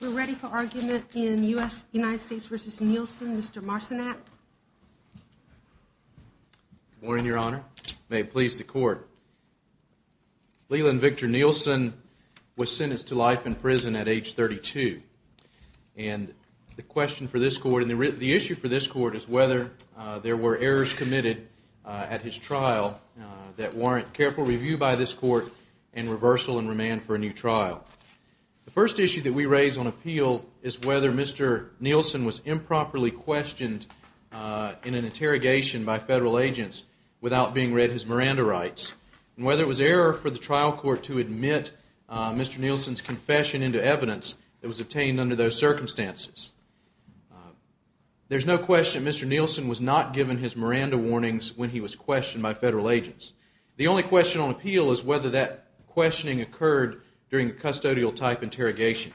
We're ready for argument in U.S. United States v. Nielsen. Mr. Marcinak. Good morning, Your Honor. May it please the Court. Leland Victor Nielsen was sentenced to life in prison at age 32. And the question for this Court and the issue for this Court is whether there were errors committed at his trial that warrant careful review by this Court and reversal and remand for a new trial. The first issue that we raise on appeal is whether Mr. Nielsen was improperly questioned in an interrogation by federal agents without being read his Miranda rights and whether it was error for the trial court to admit Mr. Nielsen's confession into evidence that was obtained under those circumstances. There's no question Mr. Nielsen was not given his Miranda warnings when he was questioned by federal agents. The only question on appeal is whether that questioning occurred during a custodial type interrogation.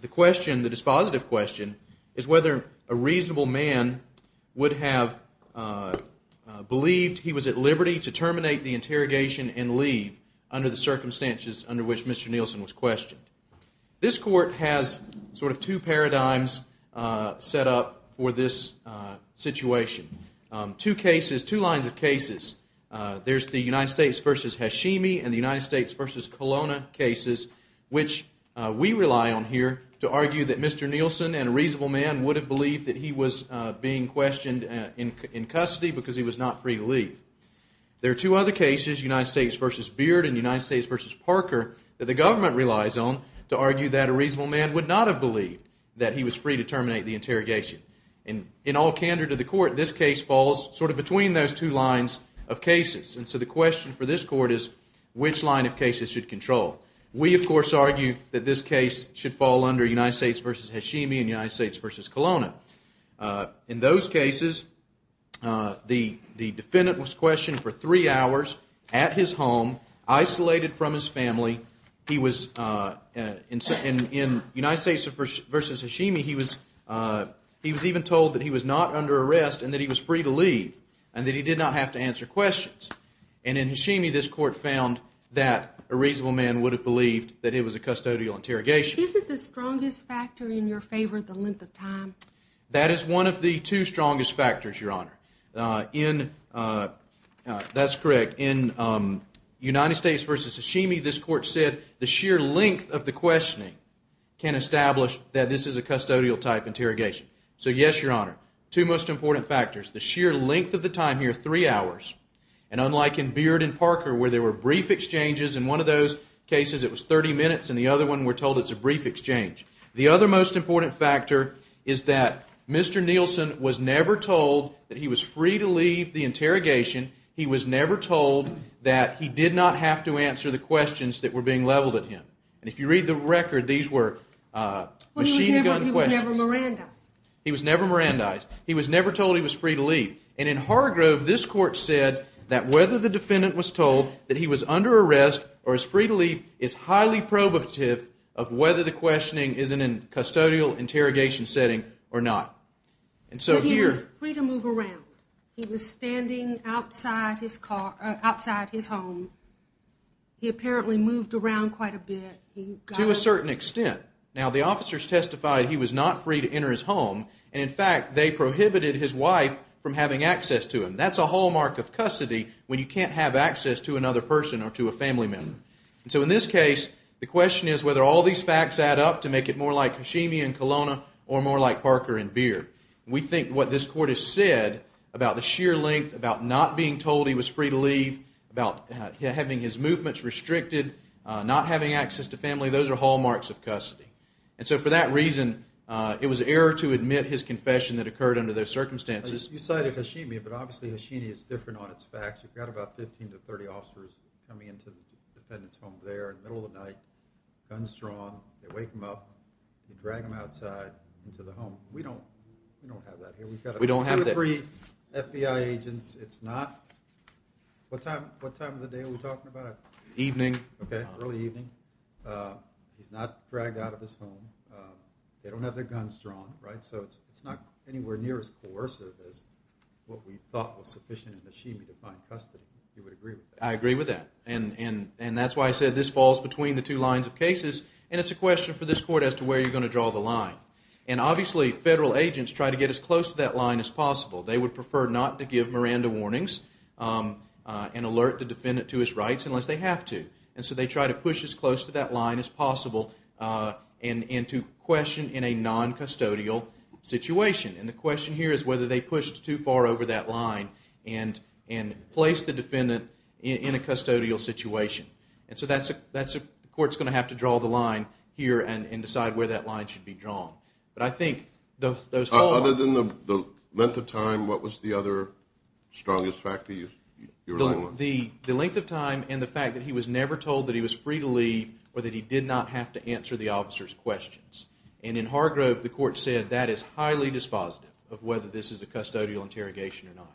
The question, the dispositive question, is whether a reasonable man would have believed he was at liberty to terminate the interrogation and leave under the circumstances under which Mr. Nielsen was questioned. This Court has sort of two paradigms set up for this situation. Two cases, two lines of cases. There's the United States v. Hashimi and the United States v. Colonna cases which we rely on here to argue that Mr. Nielsen and a reasonable man would have believed that he was being questioned in custody because he was not free to leave. There are two other cases, United States v. Beard and United States v. Parker, that the government relies on to argue that a reasonable man would not have believed that he was free to terminate the interrogation. In all candor to the Court, this case falls sort of between those two lines of cases. And so the question for this Court is which line of cases should control. We of course argue that this case should fall under United States v. Hashimi and United States v. Colonna. In those cases, the defendant was questioned for three hours at his home, isolated from his family. In United States v. Hashimi, he was even told that he was not under arrest and that he was free to leave and that he did not have to answer questions. And in Hashimi, this Court found that a reasonable man would have believed that it was a custodial interrogation. Isn't the strongest factor in your favor the length of time? That is one of the two strongest factors, Your Honor. That's correct. In United States v. Hashimi, this Court said the sheer length of the questioning can establish that this is a custodial type interrogation. So yes, Your Honor. Two most important factors. The sheer length of the time here, three hours. And unlike in Beard and Parker where there were brief exchanges, in one of those cases it was 30 minutes and the other one we're told it's a brief exchange. The other most important factor is that Mr. Nielsen was never told that he was free to leave the interrogation. He was never told that he did not have to answer the questions that were being leveled at him. And if you read the record, these were machine gun questions. Well, he was never Mirandized. He was never Mirandized. He was never told he was free to leave. And in Hargrove, this Court said that whether the defendant was told that he was under arrest or is free to leave is highly probative of whether the questioning is in a custodial interrogation setting or not. He was free to move around. He was standing outside his home. He apparently moved around quite a bit. To a certain extent. Now, the officers testified he was not free to enter his home. And in fact, they prohibited his wife from having access to him. That's a hallmark of custody when you can't have access to another person or to a family member. So in this case, the question is whether all these facts add up to make it more like Hashimi in Kelowna or more like Parker in Beard. We think what this Court has said about the sheer length, about not being told he was free to leave, about having his movements restricted, not having access to family, those are hallmarks of custody. And so for that reason, it was error to admit his confession that occurred under those circumstances. You cited Hashimi, but obviously Hashimi is different on its facts. You've got about 15 to 30 officers coming into the defendant's home there in the middle of the night, guns drawn. They wake him up. They drag him outside into the home. We don't have that here. We don't have that. We've got two or three FBI agents. It's not – what time of the day are we talking about? Evening. Okay, early evening. He's not dragged out of his home. They don't have their guns drawn, right? So it's not anywhere near as coercive as what we thought was sufficient in Hashimi to find custody. You would agree with that? I agree with that. And that's why I said this falls between the two lines of cases, and it's a question for this Court as to where you're going to draw the line. And obviously federal agents try to get as close to that line as possible. They would prefer not to give Miranda warnings and alert the defendant to his rights unless they have to. And so they try to push as close to that line as possible and to question in a non-custodial situation. And the question here is whether they pushed too far over that line and placed the defendant in a custodial situation. And so that's a – the Court's going to have to draw the line here and decide where that line should be drawn. But I think those fall apart. Other than the length of time, what was the other strongest factor you're relying on? The length of time and the fact that he was never told that he was free to leave or that he did not have to answer the officer's questions. And in Hargrove, the Court said that is highly dispositive of whether this is a custodial interrogation or not.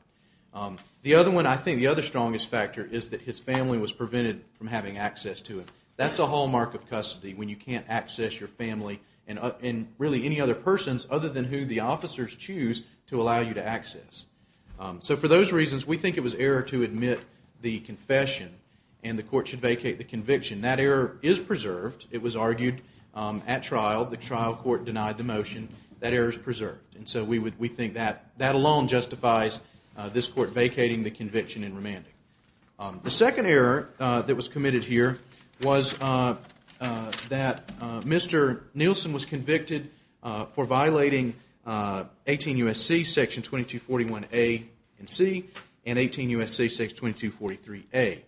The other one, I think the other strongest factor, is that his family was prevented from having access to him. That's a hallmark of custody when you can't access your family and really any other persons So for those reasons, we think it was error to admit the confession and the Court should vacate the conviction. That error is preserved. It was argued at trial. The trial court denied the motion. That error is preserved. And so we think that alone justifies this Court vacating the conviction and remanding. The second error that was committed here was that Mr. Nielsen was convicted for violating 18 U.S.C. section 2241A and C and 18 U.S.C. section 2243A.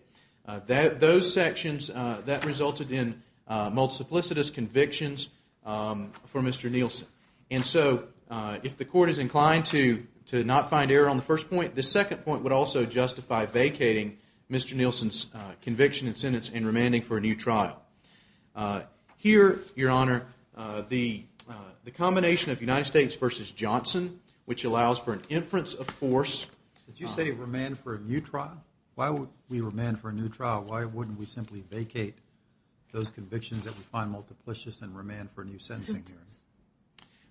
Those sections, that resulted in multiplicitous convictions for Mr. Nielsen. And so if the Court is inclined to not find error on the first point, the second point would also justify vacating Mr. Nielsen's conviction and sentence and remanding for a new trial. Here, Your Honor, the combination of United States v. Johnson, which allows for an inference of force... Did you say remand for a new trial? Why would we remand for a new trial? Why wouldn't we simply vacate those convictions that we find multiplicious and remand for a new sentencing hearing?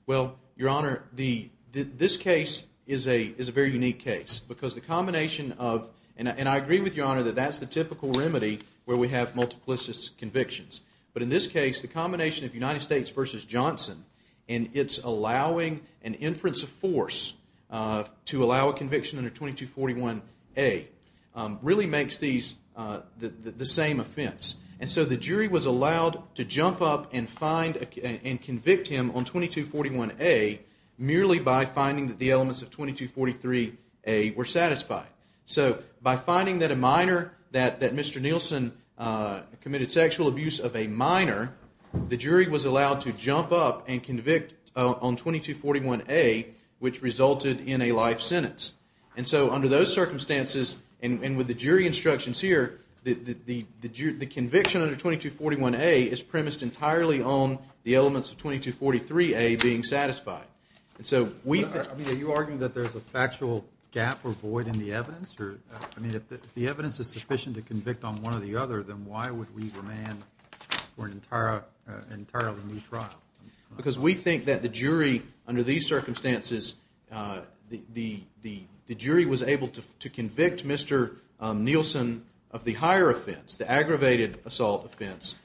Well, Your Honor, this case is a very unique case because the combination of... But in this case, the combination of United States v. Johnson and its allowing an inference of force to allow a conviction under 2241A really makes these the same offense. And so the jury was allowed to jump up and find and convict him on 2241A merely by finding that the elements of 2243A were satisfied. So by finding that Mr. Nielsen committed sexual abuse of a minor, the jury was allowed to jump up and convict on 2241A, which resulted in a life sentence. And so under those circumstances and with the jury instructions here, the conviction under 2241A is premised entirely on the elements of 2243A being satisfied. Are you arguing that there's a factual gap or void in the evidence? I mean, if the evidence is sufficient to convict on one or the other, then why would we remand for an entirely new trial? Because we think that the jury, under these circumstances, the jury was able to convict Mr. Nielsen of the higher offense, the aggravated assault offense,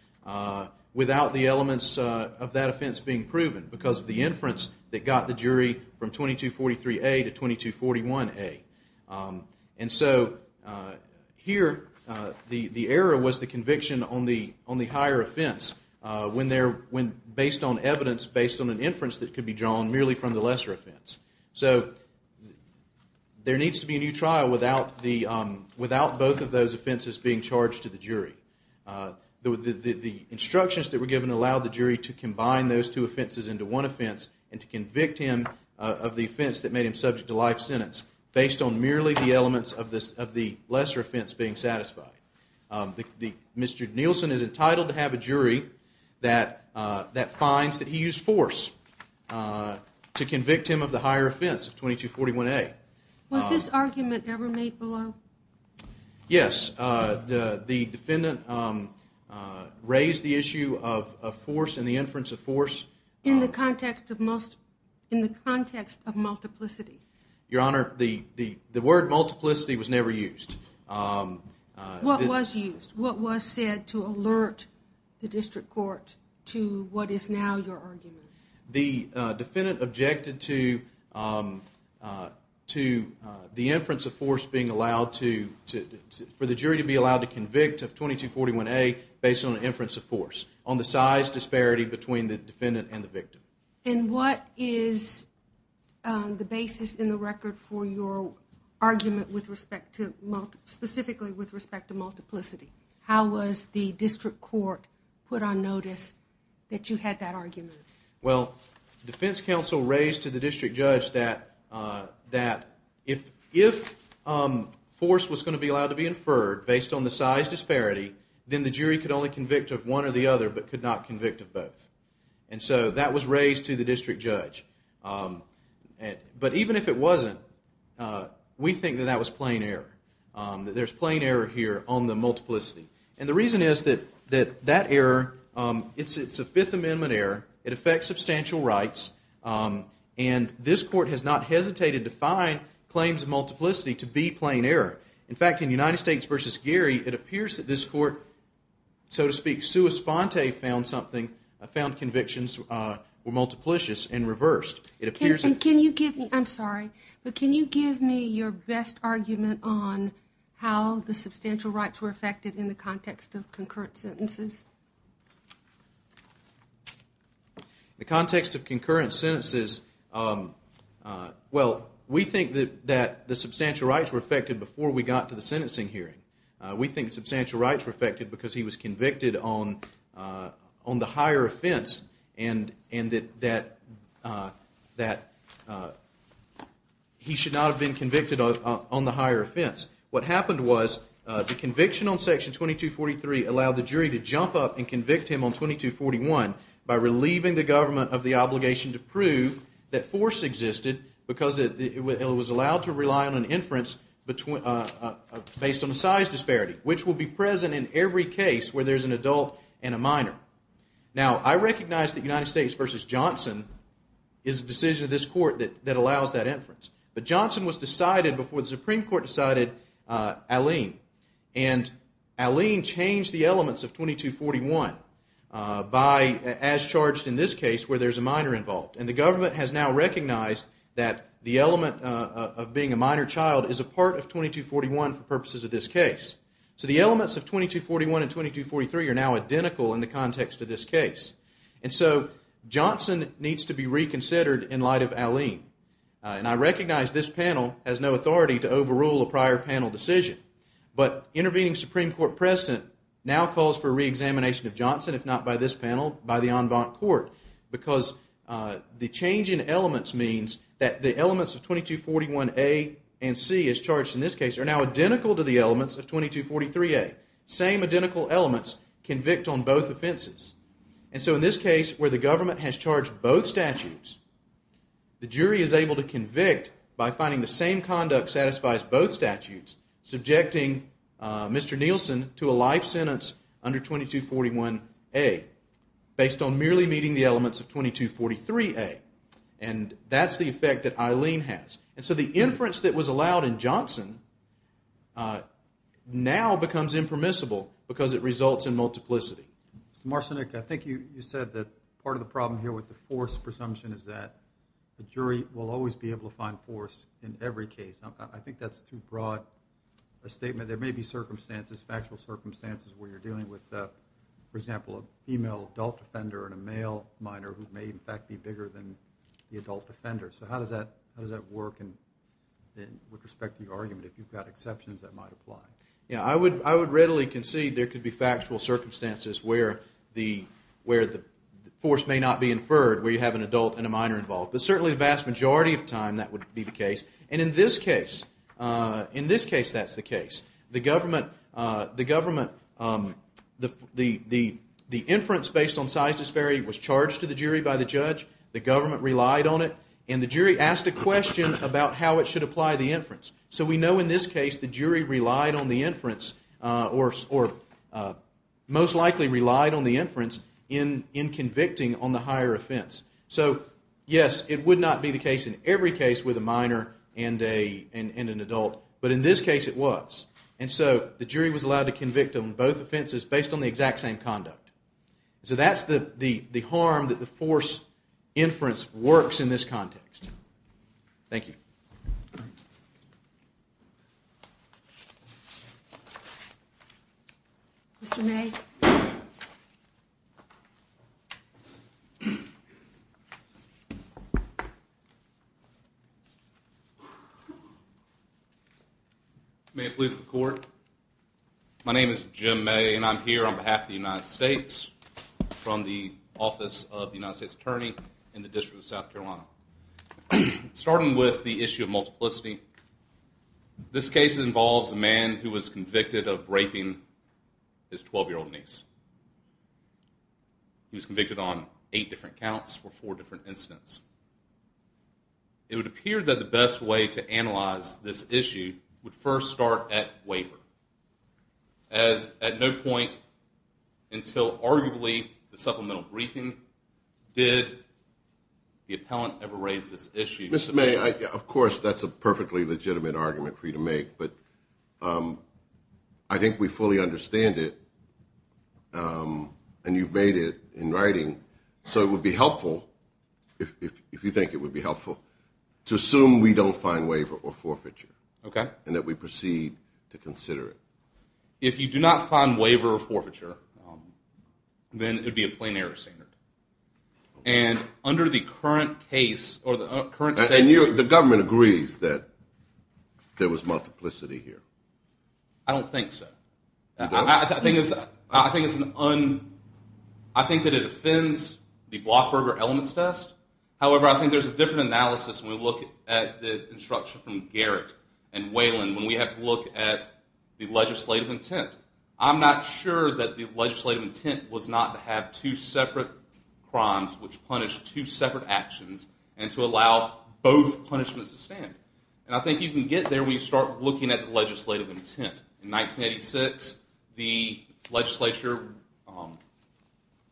without the elements of that offense being proven because of the inference that got the jury from 2243A to 2241A. And so here the error was the conviction on the higher offense based on evidence, based on an inference that could be drawn merely from the lesser offense. So there needs to be a new trial without both of those offenses being charged to the jury. The instructions that were given allowed the jury to combine those two offenses into one offense and to convict him of the offense that made him subject to life sentence based on merely the elements of the lesser offense being satisfied. Mr. Nielsen is entitled to have a jury that finds that he used force to convict him of the higher offense of 2241A. Was this argument ever made below? Yes. The defendant raised the issue of force and the inference of force. In the context of multiplicity? Your Honor, the word multiplicity was never used. What was used? What was said to alert the district court to what is now your argument? The defendant objected to the inference of force being allowed to, for the jury to be allowed to convict of 2241A based on an inference of force on the size disparity between the defendant and the victim. And what is the basis in the record for your argument with respect to, specifically with respect to multiplicity? How was the district court put on notice that you had that argument? Well, the defense counsel raised to the district judge that if force was going to be allowed to be inferred based on the size disparity, then the jury could only convict of one or the other but could not convict of both. And so that was raised to the district judge. But even if it wasn't, we think that that was plain error. That there's plain error here on the multiplicity. And the reason is that that error, it's a Fifth Amendment error. It affects substantial rights. And this court has not hesitated to find claims of multiplicity to be plain error. In fact, in United States v. Gary, it appears that this court, so to speak, And can you give me, I'm sorry, but can you give me your best argument on how the substantial rights were affected in the context of concurrent sentences? The context of concurrent sentences, well, we think that the substantial rights were affected before we got to the sentencing hearing. We think substantial rights were affected because he was convicted on the higher offense and that he should not have been convicted on the higher offense. What happened was the conviction on Section 2243 allowed the jury to jump up and convict him on 2241 by relieving the government of the obligation to prove that force existed because it was allowed to rely on an inference based on the size disparity, which will be present in every case where there's an adult and a minor. Now, I recognize that United States v. Johnson is a decision of this court that allows that inference. But Johnson was decided before the Supreme Court decided Alleyne. And Alleyne changed the elements of 2241 as charged in this case where there's a minor involved. And the government has now recognized that the element of being a minor child is a part of 2241 for purposes of this case. So the elements of 2241 and 2243 are now identical in the context of this case. And so Johnson needs to be reconsidered in light of Alleyne. And I recognize this panel has no authority to overrule a prior panel decision. But intervening Supreme Court precedent now calls for reexamination of Johnson, if not by this panel, by the en banc court, because the change in elements means that the elements of 2241A and C as charged in this case are now identical to the elements of 2243A. Same identical elements convict on both offenses. And so in this case where the government has charged both statutes, the jury is able to convict by finding the same conduct satisfies both statutes, subjecting Mr. Nielsen to a life sentence under 2241A, based on merely meeting the elements of 2243A. And that's the effect that Alleyne has. And so the inference that was allowed in Johnson now becomes impermissible because it results in multiplicity. Mr. Marcinick, I think you said that part of the problem here with the force presumption is that the jury will always be able to find force in every case. I think that's too broad a statement. There may be circumstances, factual circumstances, where you're dealing with, for example, a female adult offender and a male minor who may, in fact, be bigger than the adult offender. So how does that work with respect to the argument? If you've got exceptions, that might apply. Yeah, I would readily concede there could be factual circumstances where the force may not be inferred, where you have an adult and a minor involved. But certainly the vast majority of the time that would be the case. And in this case, that's the case. The government, the inference based on size disparity was charged to the jury by the judge. The government relied on it. And the jury asked a question about how it should apply the inference. So we know in this case the jury relied on the inference or most likely relied on the inference in convicting on the higher offense. So, yes, it would not be the case in every case with a minor and an adult, but in this case it was. And so the jury was allowed to convict on both offenses based on the exact same conduct. So that's the harm that the force inference works in this context. Thank you. Mr. May? May it please the Court? My name is Jim May and I'm here on behalf of the United States from the Office of the United States Attorney in the District of South Carolina. Starting with the issue of multiplicity, this case involves a man who was convicted of raping his 12-year-old niece. He was convicted on eight different counts for four different incidents. It would appear that the best way to analyze this issue would first start at waiver, as at no point until arguably the supplemental briefing did the appellant ever raise this issue. Mr. May, of course, that's a perfectly legitimate argument for you to make, but I think we fully understand it and you've made it in writing, so it would be helpful, if you think it would be helpful, to assume we don't find waiver or forfeiture and that we proceed to consider it. If you do not find waiver or forfeiture, then it would be a plain error standard. And under the current case or the current standard… And the government agrees that there was multiplicity here? I don't think so. I think that it offends the Blockberger Elements Test. However, I think there's a different analysis when we look at the instruction from Garrett and Whelan when we have to look at the legislative intent. I'm not sure that the legislative intent was not to have two separate crimes which punished two separate actions and to allow both punishments to stand. And I think you can get there when you start looking at the legislative intent. In 1986, the legislature,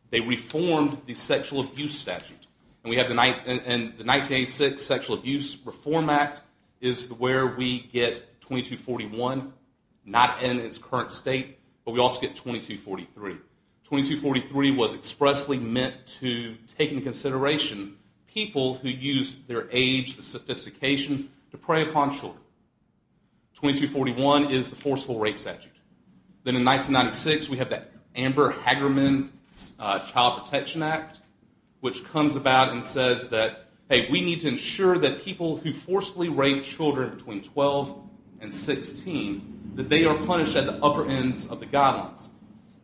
they reformed the sexual abuse statute. And we have the 1986 Sexual Abuse Reform Act is where we get 2241, not in its current state, but we also get 2243. 2243 was expressly meant to take into consideration people who use their age, the sophistication, to prey upon children. 2241 is the forceful rape statute. Then in 1996, we have that Amber Hagerman Child Protection Act which comes about and says that, hey, we need to ensure that people who forcefully rape children between 12 and 16, that they are punished at the upper ends of the guidelines.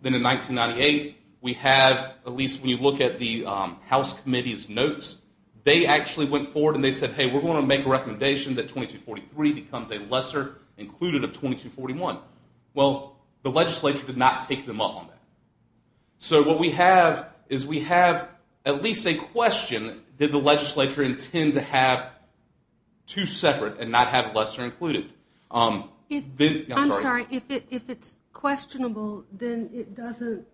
Then in 1998, we have, at least when you look at the House Committee's notes, they actually went forward and they said, hey, we're going to make a recommendation that 2243 becomes a lesser included of 2241. Well, the legislature did not take them up on that. So what we have is we have at least a question, did the legislature intend to have two separate and not have lesser included? I'm sorry, if it's questionable, then it doesn't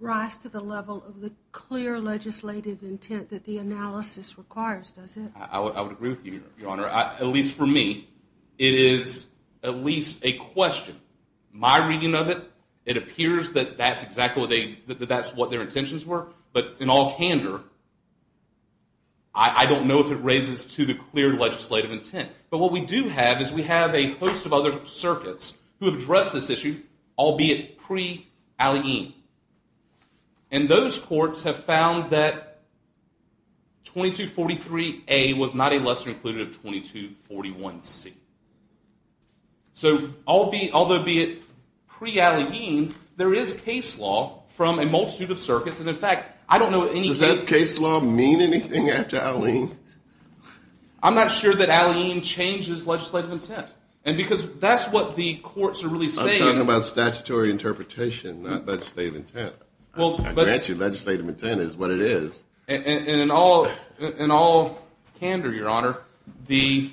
rise to the level of the clear legislative intent that the analysis requires, does it? I would agree with you, Your Honor. At least for me, it is at least a question. My reading of it, it appears that that's exactly what their intentions were. But in all candor, I don't know if it raises to the clear legislative intent. But what we do have is we have a host of other circuits who have addressed this issue, albeit pre-Alleyne. And those courts have found that 2243A was not a lesser included of 2241C. So although be it pre-Alleyne, there is case law from a multitude of circuits. And in fact, I don't know any case law. Does that case law mean anything after Alleyne? I'm not sure that Alleyne changes legislative intent. And because that's what the courts are really saying. We're talking about statutory interpretation, not legislative intent. I grant you legislative intent is what it is. And in all candor, Your Honor, the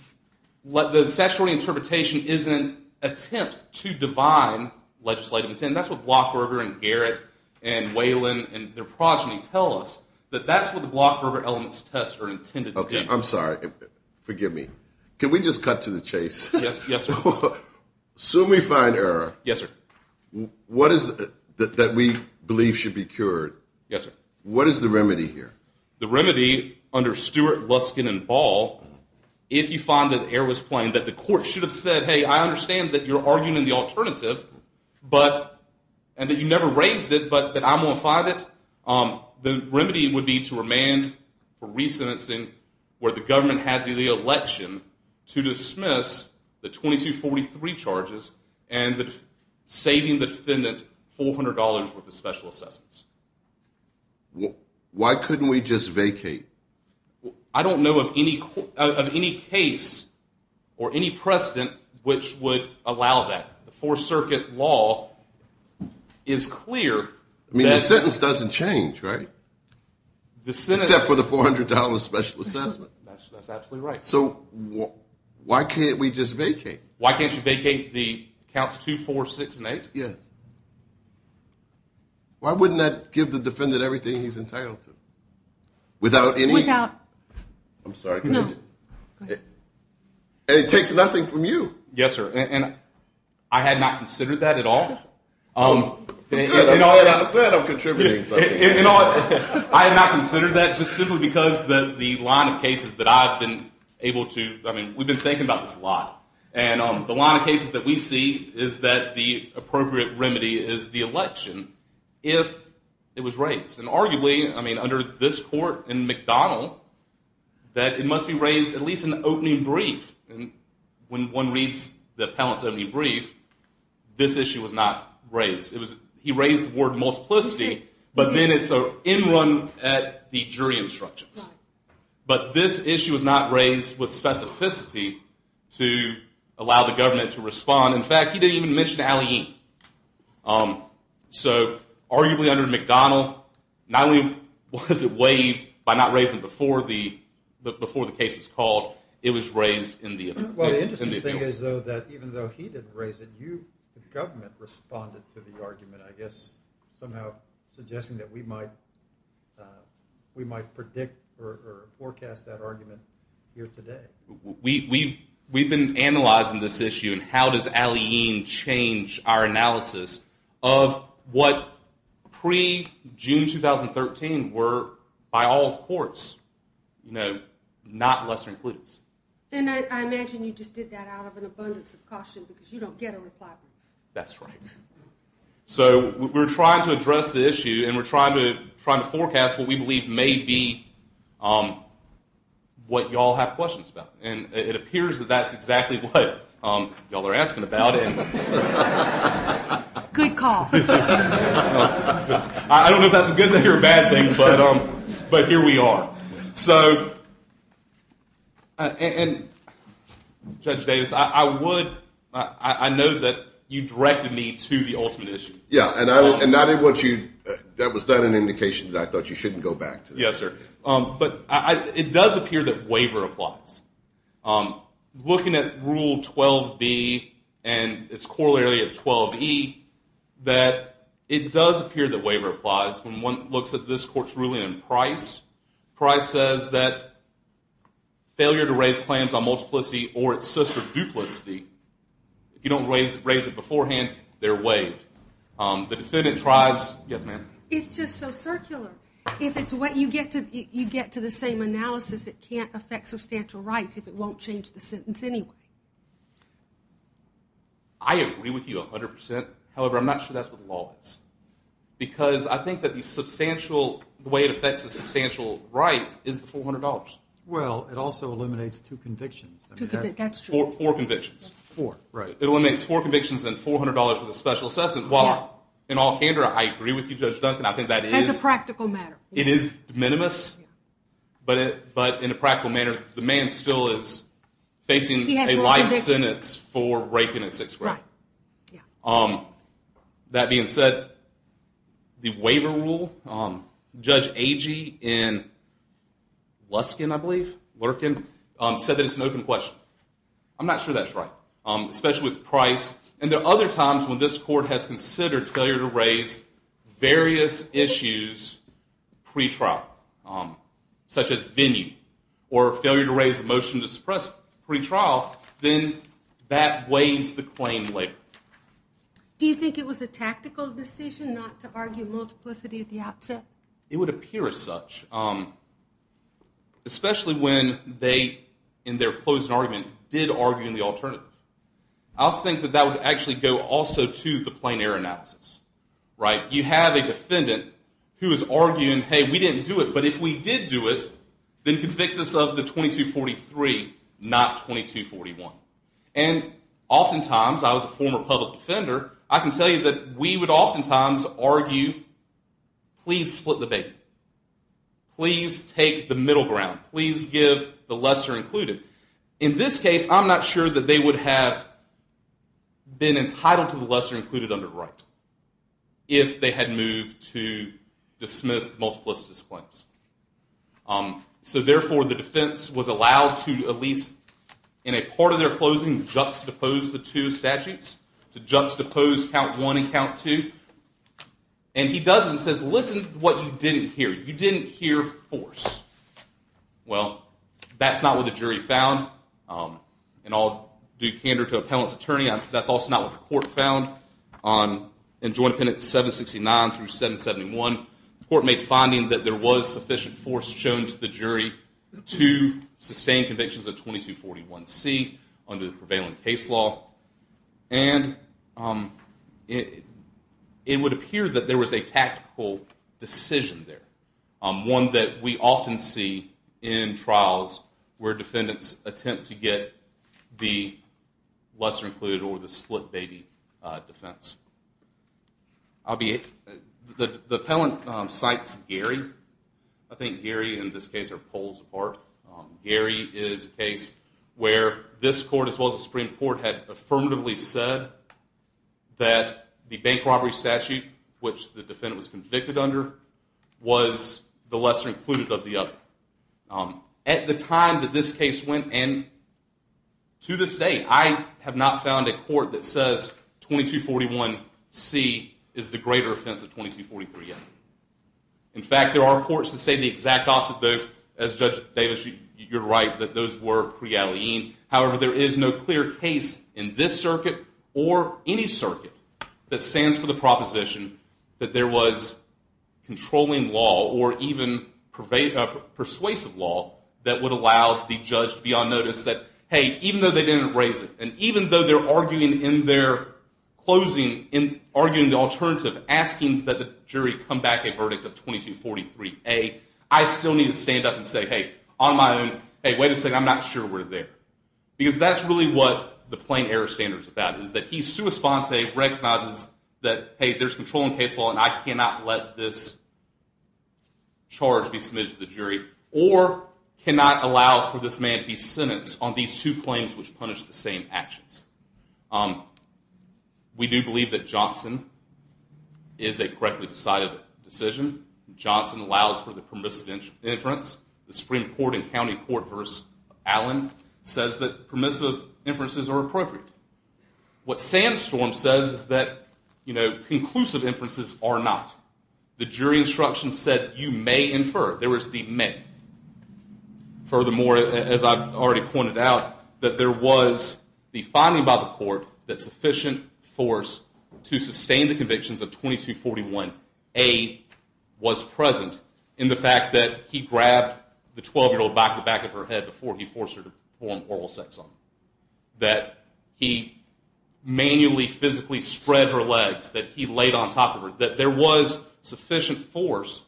statutory interpretation isn't an attempt to divine legislative intent. That's what Blockberger and Garrett and Whalen and their progeny tell us, that that's what the Blockberger elements test are intended to be. Okay, I'm sorry. Forgive me. Can we just cut to the chase? Yes, yes, sir. Assume we find error. Yes, sir. What is it that we believe should be cured? Yes, sir. What is the remedy here? The remedy under Stewart, Luskin, and Ball, if you find that error was plain, that the court should have said, hey, I understand that you're arguing in the alternative, and that you never raised it, but that I'm going to find it, the remedy would be to remand for re-sentencing where the government has the election to dismiss the 2243 charges and saving the defendant $400 worth of special assessments. Why couldn't we just vacate? I don't know of any case or any precedent which would allow that. The Fourth Circuit law is clear. I mean, the sentence doesn't change, right? Except for the $400 special assessment. That's absolutely right. So why can't we just vacate? Why can't you vacate the counts 2, 4, 6, and 8? Yes. Why wouldn't that give the defendant everything he's entitled to? Without any? Without. I'm sorry. No. It takes nothing from you. Yes, sir. And I had not considered that at all. I'm glad I'm contributing something. I had not considered that just simply because the line of cases that I've been able to, I mean, we've been thinking about this a lot, and the line of cases that we see is that the appropriate remedy is the election if it was raised. And arguably, I mean, under this court in McDonald, that it must be raised at least in the opening brief. And when one reads the appellant's opening brief, this issue was not raised. He raised the word multiplicity, but then it's in run at the jury instructions. But this issue was not raised with specificity to allow the government to respond. In fact, he didn't even mention Alleyne. So arguably under McDonald, not only was it waived by not raising it before the case was called, it was raised in the appeal. Well, the interesting thing is, though, that even though he didn't raise it, you, the government, responded to the argument, I guess, somehow suggesting that we might predict or forecast that argument here today. We've been analyzing this issue, and how does Alleyne change our analysis of what pre-June 2013 were, by all courts, not lesser includes. And I imagine you just did that out of an abundance of caution, because you don't get a reply. That's right. So we're trying to address the issue, and we're trying to forecast what we believe may be what y'all have questions about. And it appears that that's exactly what y'all are asking about. Good call. I don't know if that's a good thing or a bad thing, but here we are. So, and Judge Davis, I know that you directed me to the ultimate issue. Yeah, and that was not an indication that I thought you shouldn't go back to that. Yes, sir. But it does appear that waiver applies. Looking at Rule 12b and its corollary of 12e, that it does appear that waiver applies. When one looks at this court's ruling in Price, Price says that failure to raise claims on multiplicity or its sister duplicity, if you don't raise it beforehand, they're waived. The defendant tries. Yes, ma'am. It's just so circular. If it's what you get to, you get to the same analysis. It can't affect substantial rights if it won't change the sentence anyway. I agree with you 100%. However, I'm not sure that's what the law is. Because I think that the way it affects a substantial right is the $400. Well, it also eliminates two convictions. That's true. Four convictions. That's four, right. It eliminates four convictions and $400 for the special assessment. While, in all candor, I agree with you, Judge Duncan, I think that is- That's a practical matter. It is minimus, but in a practical manner, the man still is facing a life sentence for raping a six-year-old. Right, yeah. That being said, the waiver rule, Judge Agee in Luskin, I believe, Lurkin, said that it's an open question. I'm not sure that's right, especially with price. And there are other times when this court has considered failure to raise various issues pretrial, such as venue, or failure to raise a motion to suppress pretrial, then that weighs the claim later. Do you think it was a tactical decision not to argue multiplicity at the outset? It would appear as such, especially when they, in their closing argument, did argue in the alternative. I also think that that would actually go also to the plain error analysis, right. You have a defendant who is arguing, hey, we didn't do it, but if we did do it, then convict us of the 2243, not 2241. And oftentimes, I was a former public defender, I can tell you that we would oftentimes argue, please split the bait. Please take the middle ground. Please give the lesser included. In this case, I'm not sure that they would have been entitled to the lesser included under the right if they had moved to dismiss the multiplicity claims. So therefore, the defense was allowed to, at least in a part of their closing, juxtapose the two statutes, to juxtapose count one and count two. And he does and says, listen to what you didn't hear. You didn't hear force. Well, that's not what the jury found. And I'll do candor to appellant's attorney. That's also not what the court found. In Joint Appendix 769 through 771, the court made finding that there was sufficient force shown to the jury to sustain convictions of 2241C under the prevailing case law. And it would appear that there was a tactical decision there, one that we often see in trials where defendants attempt to get the lesser included or the split baby defense. The appellant cites Gary. I think Gary in this case are poles apart. Gary is a case where this court, as well as the Supreme Court, had affirmatively said that the bank robbery statute, which the defendant was convicted under, was the lesser included of the other. At the time that this case went in, to this day, I have not found a court that says 2241C is the greater offense of 2243A. In fact, there are courts that say the exact opposite. As Judge Davis, you're right that those were pre-Alleyne. However, there is no clear case in this circuit or any circuit that stands for the proposition that there was controlling law or even persuasive law that would allow the judge to be on notice that, hey, even though they didn't raise it, and even though they're arguing in their closing, arguing the alternative, asking that the jury come back a verdict of 2243A, I still need to stand up and say, hey, on my own, hey, wait a second, I'm not sure we're there. Because that's really what the plain error standard is about, is that he sua sponte recognizes that, hey, there's controlling case law, and I cannot let this charge be submitted to the jury or cannot allow for this man to be sentenced on these two claims which punish the same actions. We do believe that Johnson is a correctly decided decision. Johnson allows for the permissive inference. The Supreme Court in County Court v. Allen says that permissive inferences are appropriate. What Sandstorm says is that conclusive inferences are not. The jury instruction said you may infer. There was the may. Furthermore, as I've already pointed out, that there was the finding by the court that sufficient force to sustain the convictions of 2241A was present in the fact that he grabbed the 12-year-old by the back of her head before he forced her to perform oral sex on him, that he manually physically spread her legs, that he laid on top of her, that there was sufficient force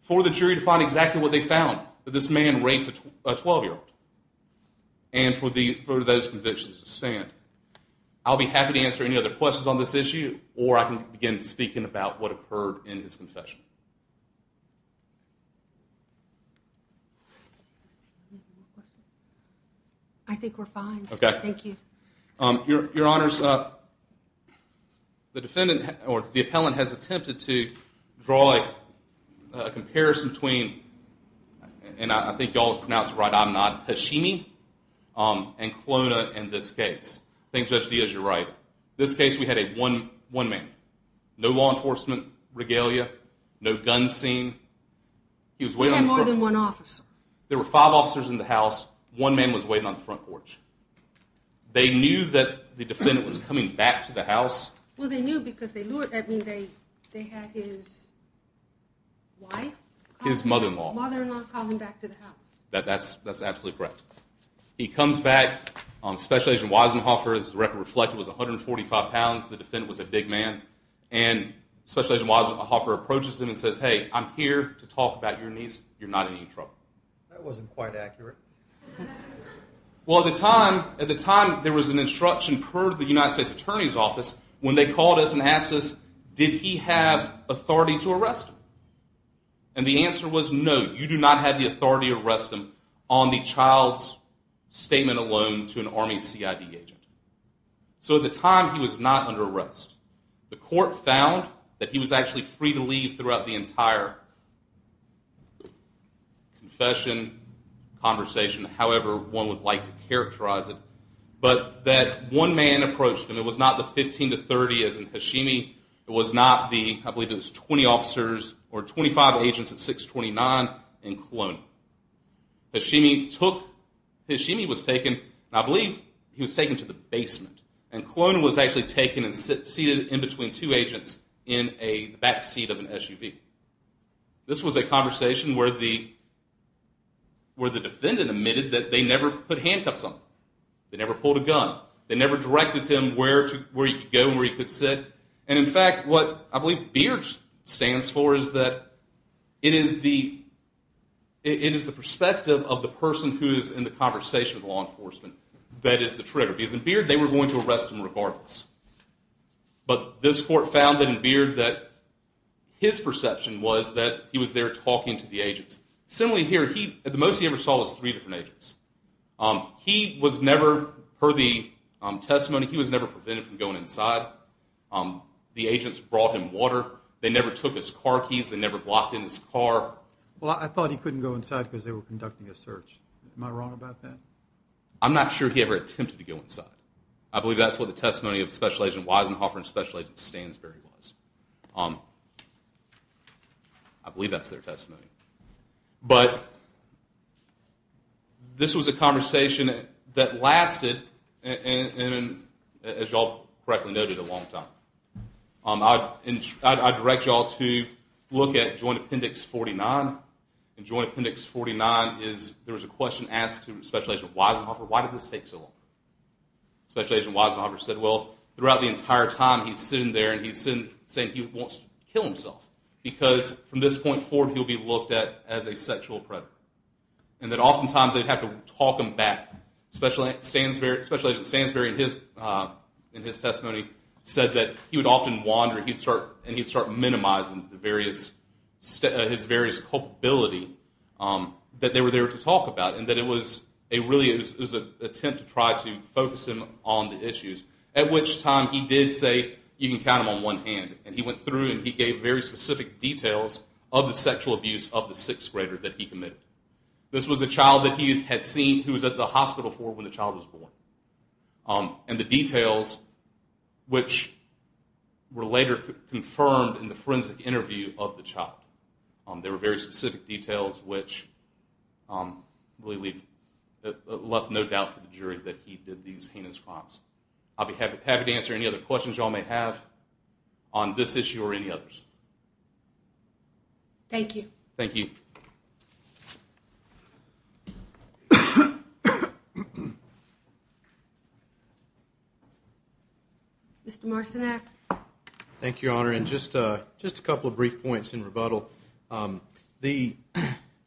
for the jury to find exactly what they found, that this man raped a 12-year-old, and for those convictions to stand. I'll be happy to answer any other questions on this issue, or I can begin speaking about what occurred in his confession. I think we're fine. Okay. Thank you. Your Honors, the defendant or the appellant has attempted to draw a comparison between, and I think you all have pronounced it right, I'm not Hashimi, and Klona in this case. I think Judge Diaz, you're right. In this case, we had one man. No law enforcement regalia. No guns seen. He had more than one officer. There were five officers in the house. One man was waiting on the front porch. They knew that the defendant was coming back to the house. Well, they knew because they had his wife. His mother-in-law. Mother-in-law calling back to the house. That's absolutely correct. He comes back. Special Agent Weisenhofer, as the record reflected, was 145 pounds. The defendant was a big man. And Special Agent Weisenhofer approaches him and says, hey, I'm here to talk about your niece. You're not in any trouble. That wasn't quite accurate. Well, at the time, there was an instruction per the United States Attorney's Office when they called us and asked us, did he have authority to arrest him? And the answer was no, you do not have the authority to arrest him on the child's statement alone to an Army CID agent. So at the time, he was not under arrest. The court found that he was actually free to leave throughout the entire confession, conversation, however one would like to characterize it. But that one man approached him. It was not the 15 to 30 as in Hashimi. It was not the, I believe it was 20 officers or 25 agents at 629 in Kelowna. Hashimi was taken, and I believe he was taken to the basement. And Kelowna was actually taken and seated in between two agents in the backseat of an SUV. This was a conversation where the defendant admitted that they never put handcuffs on him. They never pulled a gun. They never directed him where he could go and where he could sit. And in fact, what I believe Beard stands for is that it is the perspective of the person who is in the conversation with law enforcement that is the trigger. Because in Beard, they were going to arrest him regardless. But this court found in Beard that his perception was that he was there talking to the agents. Similarly here, the most he ever saw was three different agents. He was never, per the testimony, he was never prevented from going inside. The agents brought him water. They never took his car keys. They never blocked in his car. Well, I thought he couldn't go inside because they were conducting a search. Am I wrong about that? I'm not sure he ever attempted to go inside. I believe that's what the testimony of Special Agent Weisenhofer and Special Agent Stansberry was. I believe that's their testimony. But this was a conversation that lasted, as you all correctly noted, a long time. I direct you all to look at Joint Appendix 49. In Joint Appendix 49, there was a question asked to Special Agent Weisenhofer, why did this take so long? Special Agent Weisenhofer said, well, throughout the entire time he's sitting there and he's saying he wants to kill himself because from this point forward he'll be looked at as a sexual predator. And that oftentimes they'd have to talk him back. Special Agent Stansberry, in his testimony, said that he would often wander and he'd start minimizing his various culpability that they were there to talk about and that it was really an attempt to try to focus him on the issues. At which time he did say, you can count him on one hand. And he went through and he gave very specific details of the sexual abuse of the sixth grader that he committed. This was a child that he had seen who was at the hospital for when the child was born. And the details which were later confirmed in the forensic interview of the child. There were very specific details which left no doubt for the jury that he did these heinous crimes. I'll be happy to answer any other questions you all may have on this issue or any others. Thank you. Thank you. Mr. Marcinek. Thank you, Your Honor. And just a couple of brief points in rebuttal. The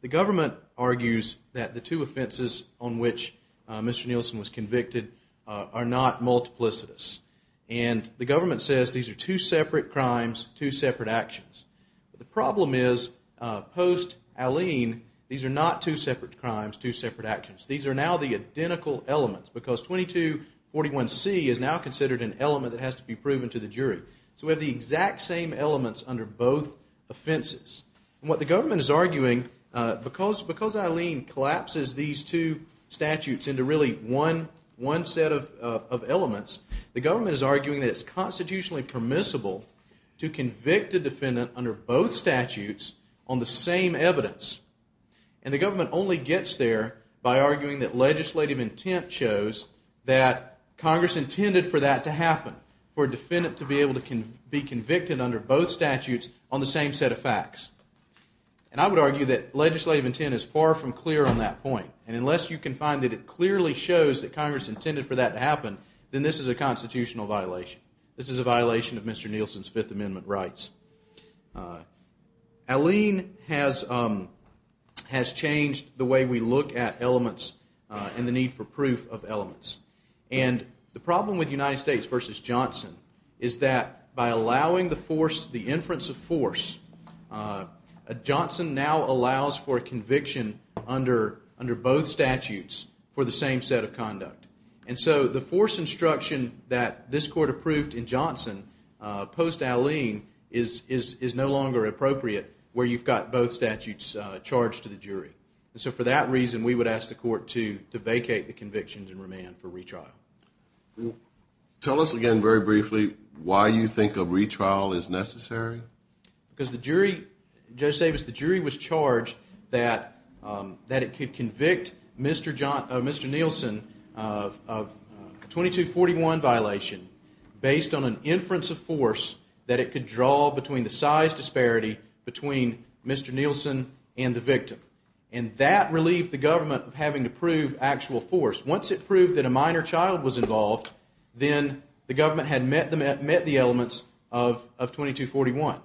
government argues that the two offenses on which Mr. Nielsen was convicted are not multiplicitous. And the government says these are two separate crimes, two separate actions. The problem is, post-Aleen, these are not two separate crimes, two separate actions. These are now the identical elements because 2241C is now considered an element that has to be proven to the jury. So we have the exact same elements under both offenses. And what the government is arguing, because Aleen collapses these two statutes into really one set of elements, the government is arguing that it's constitutionally permissible to convict a defendant under both statutes on the same evidence. And the government only gets there by arguing that legislative intent shows that Congress intended for that to happen, for a defendant to be able to be convicted under both statutes on the same set of facts. And I would argue that legislative intent is far from clear on that point. And unless you can find that it clearly shows that Congress intended for that to happen, then this is a constitutional violation. This is a violation of Mr. Nielsen's Fifth Amendment rights. Aleen has changed the way we look at elements and the need for proof of elements. And the problem with United States v. Johnson is that by allowing the inference of force, Johnson now allows for conviction under both statutes for the same set of conduct. And so the force instruction that this court approved in Johnson post-Aleen is no longer appropriate, where you've got both statutes charged to the jury. And so for that reason, we would ask the court to vacate the convictions and remand for retrial. Tell us again very briefly why you think a retrial is necessary. Because the jury, Judge Davis, the jury was charged that it could convict Mr. Nielsen of a 2241 violation based on an inference of force that it could draw between the size disparity between Mr. Nielsen and the victim. And that relieved the government of having to prove actual force. Once it proved that a minor child was involved, then the government had met the elements of 2241.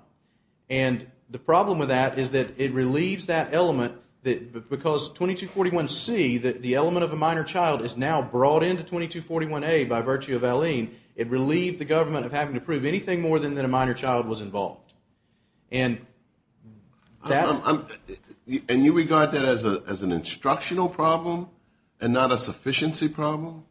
And the problem with that is that it relieves that element because 2241C, the element of a minor child, is now brought into 2241A by virtue of Aleen. It relieved the government of having to prove anything more than that a minor child was involved. And you regard that as an instructional problem and not a sufficiency problem?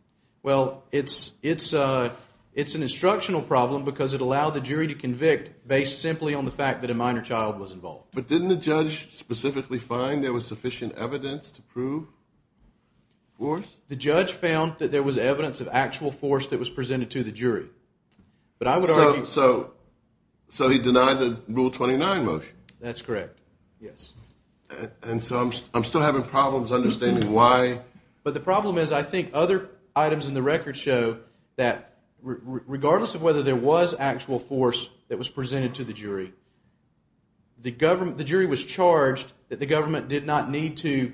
Well, it's an instructional problem because it allowed the jury to convict based simply on the fact that a minor child was involved. But didn't the judge specifically find there was sufficient evidence to prove force? The judge found that there was evidence of actual force that was presented to the jury. So he denied the Rule 29 motion? That's correct, yes. And so I'm still having problems understanding why. But the problem is I think other items in the record show that regardless of whether there was actual force that was presented to the jury, the jury was charged that the government did not need to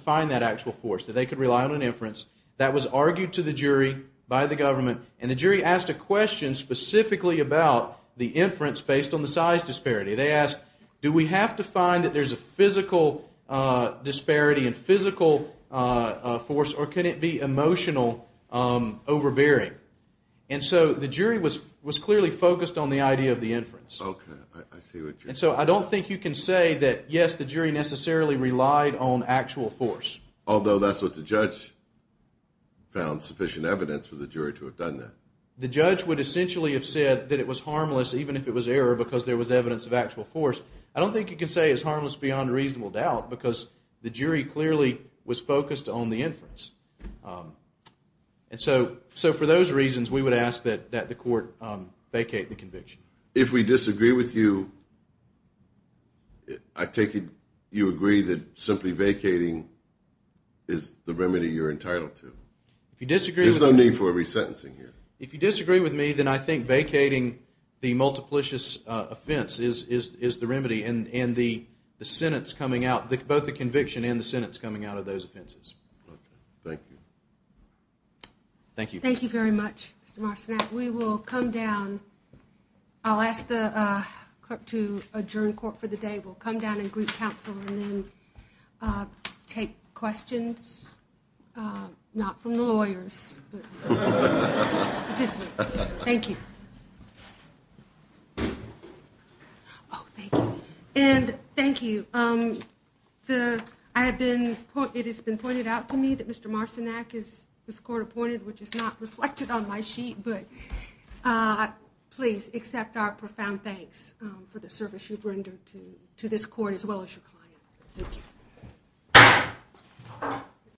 find that actual force, that they could rely on an inference. That was argued to the jury by the government, and the jury asked a question specifically about the inference based on the size disparity. They asked, do we have to find that there's a physical disparity and physical force, or can it be emotional overbearing? And so the jury was clearly focused on the idea of the inference. Okay, I see what you're saying. And so I don't think you can say that, yes, the jury necessarily relied on actual force. Although that's what the judge found sufficient evidence for the jury to have done that. The judge would essentially have said that it was harmless even if it was error because there was evidence of actual force. I don't think you can say it's harmless beyond reasonable doubt because the jury clearly was focused on the inference. And so for those reasons, we would ask that the court vacate the conviction. If we disagree with you, I take it you agree that simply vacating is the remedy you're entitled to. There's no need for a resentencing here. If you disagree with me, then I think vacating the multiplicious offense is the remedy, and both the conviction and the sentence coming out of those offenses. Okay, thank you. Thank you. Thank you very much, Mr. Marcinak. We will come down. I'll ask the court to adjourn court for the day. We'll come down and greet counsel and then take questions, not from the lawyers, but participants. Thank you. Oh, thank you. And thank you. It has been pointed out to me that Mr. Marcinak is court appointed, which is not reflected on my sheet, but please accept our profound thanks for the service you've rendered to this court as well as your client. Thank you.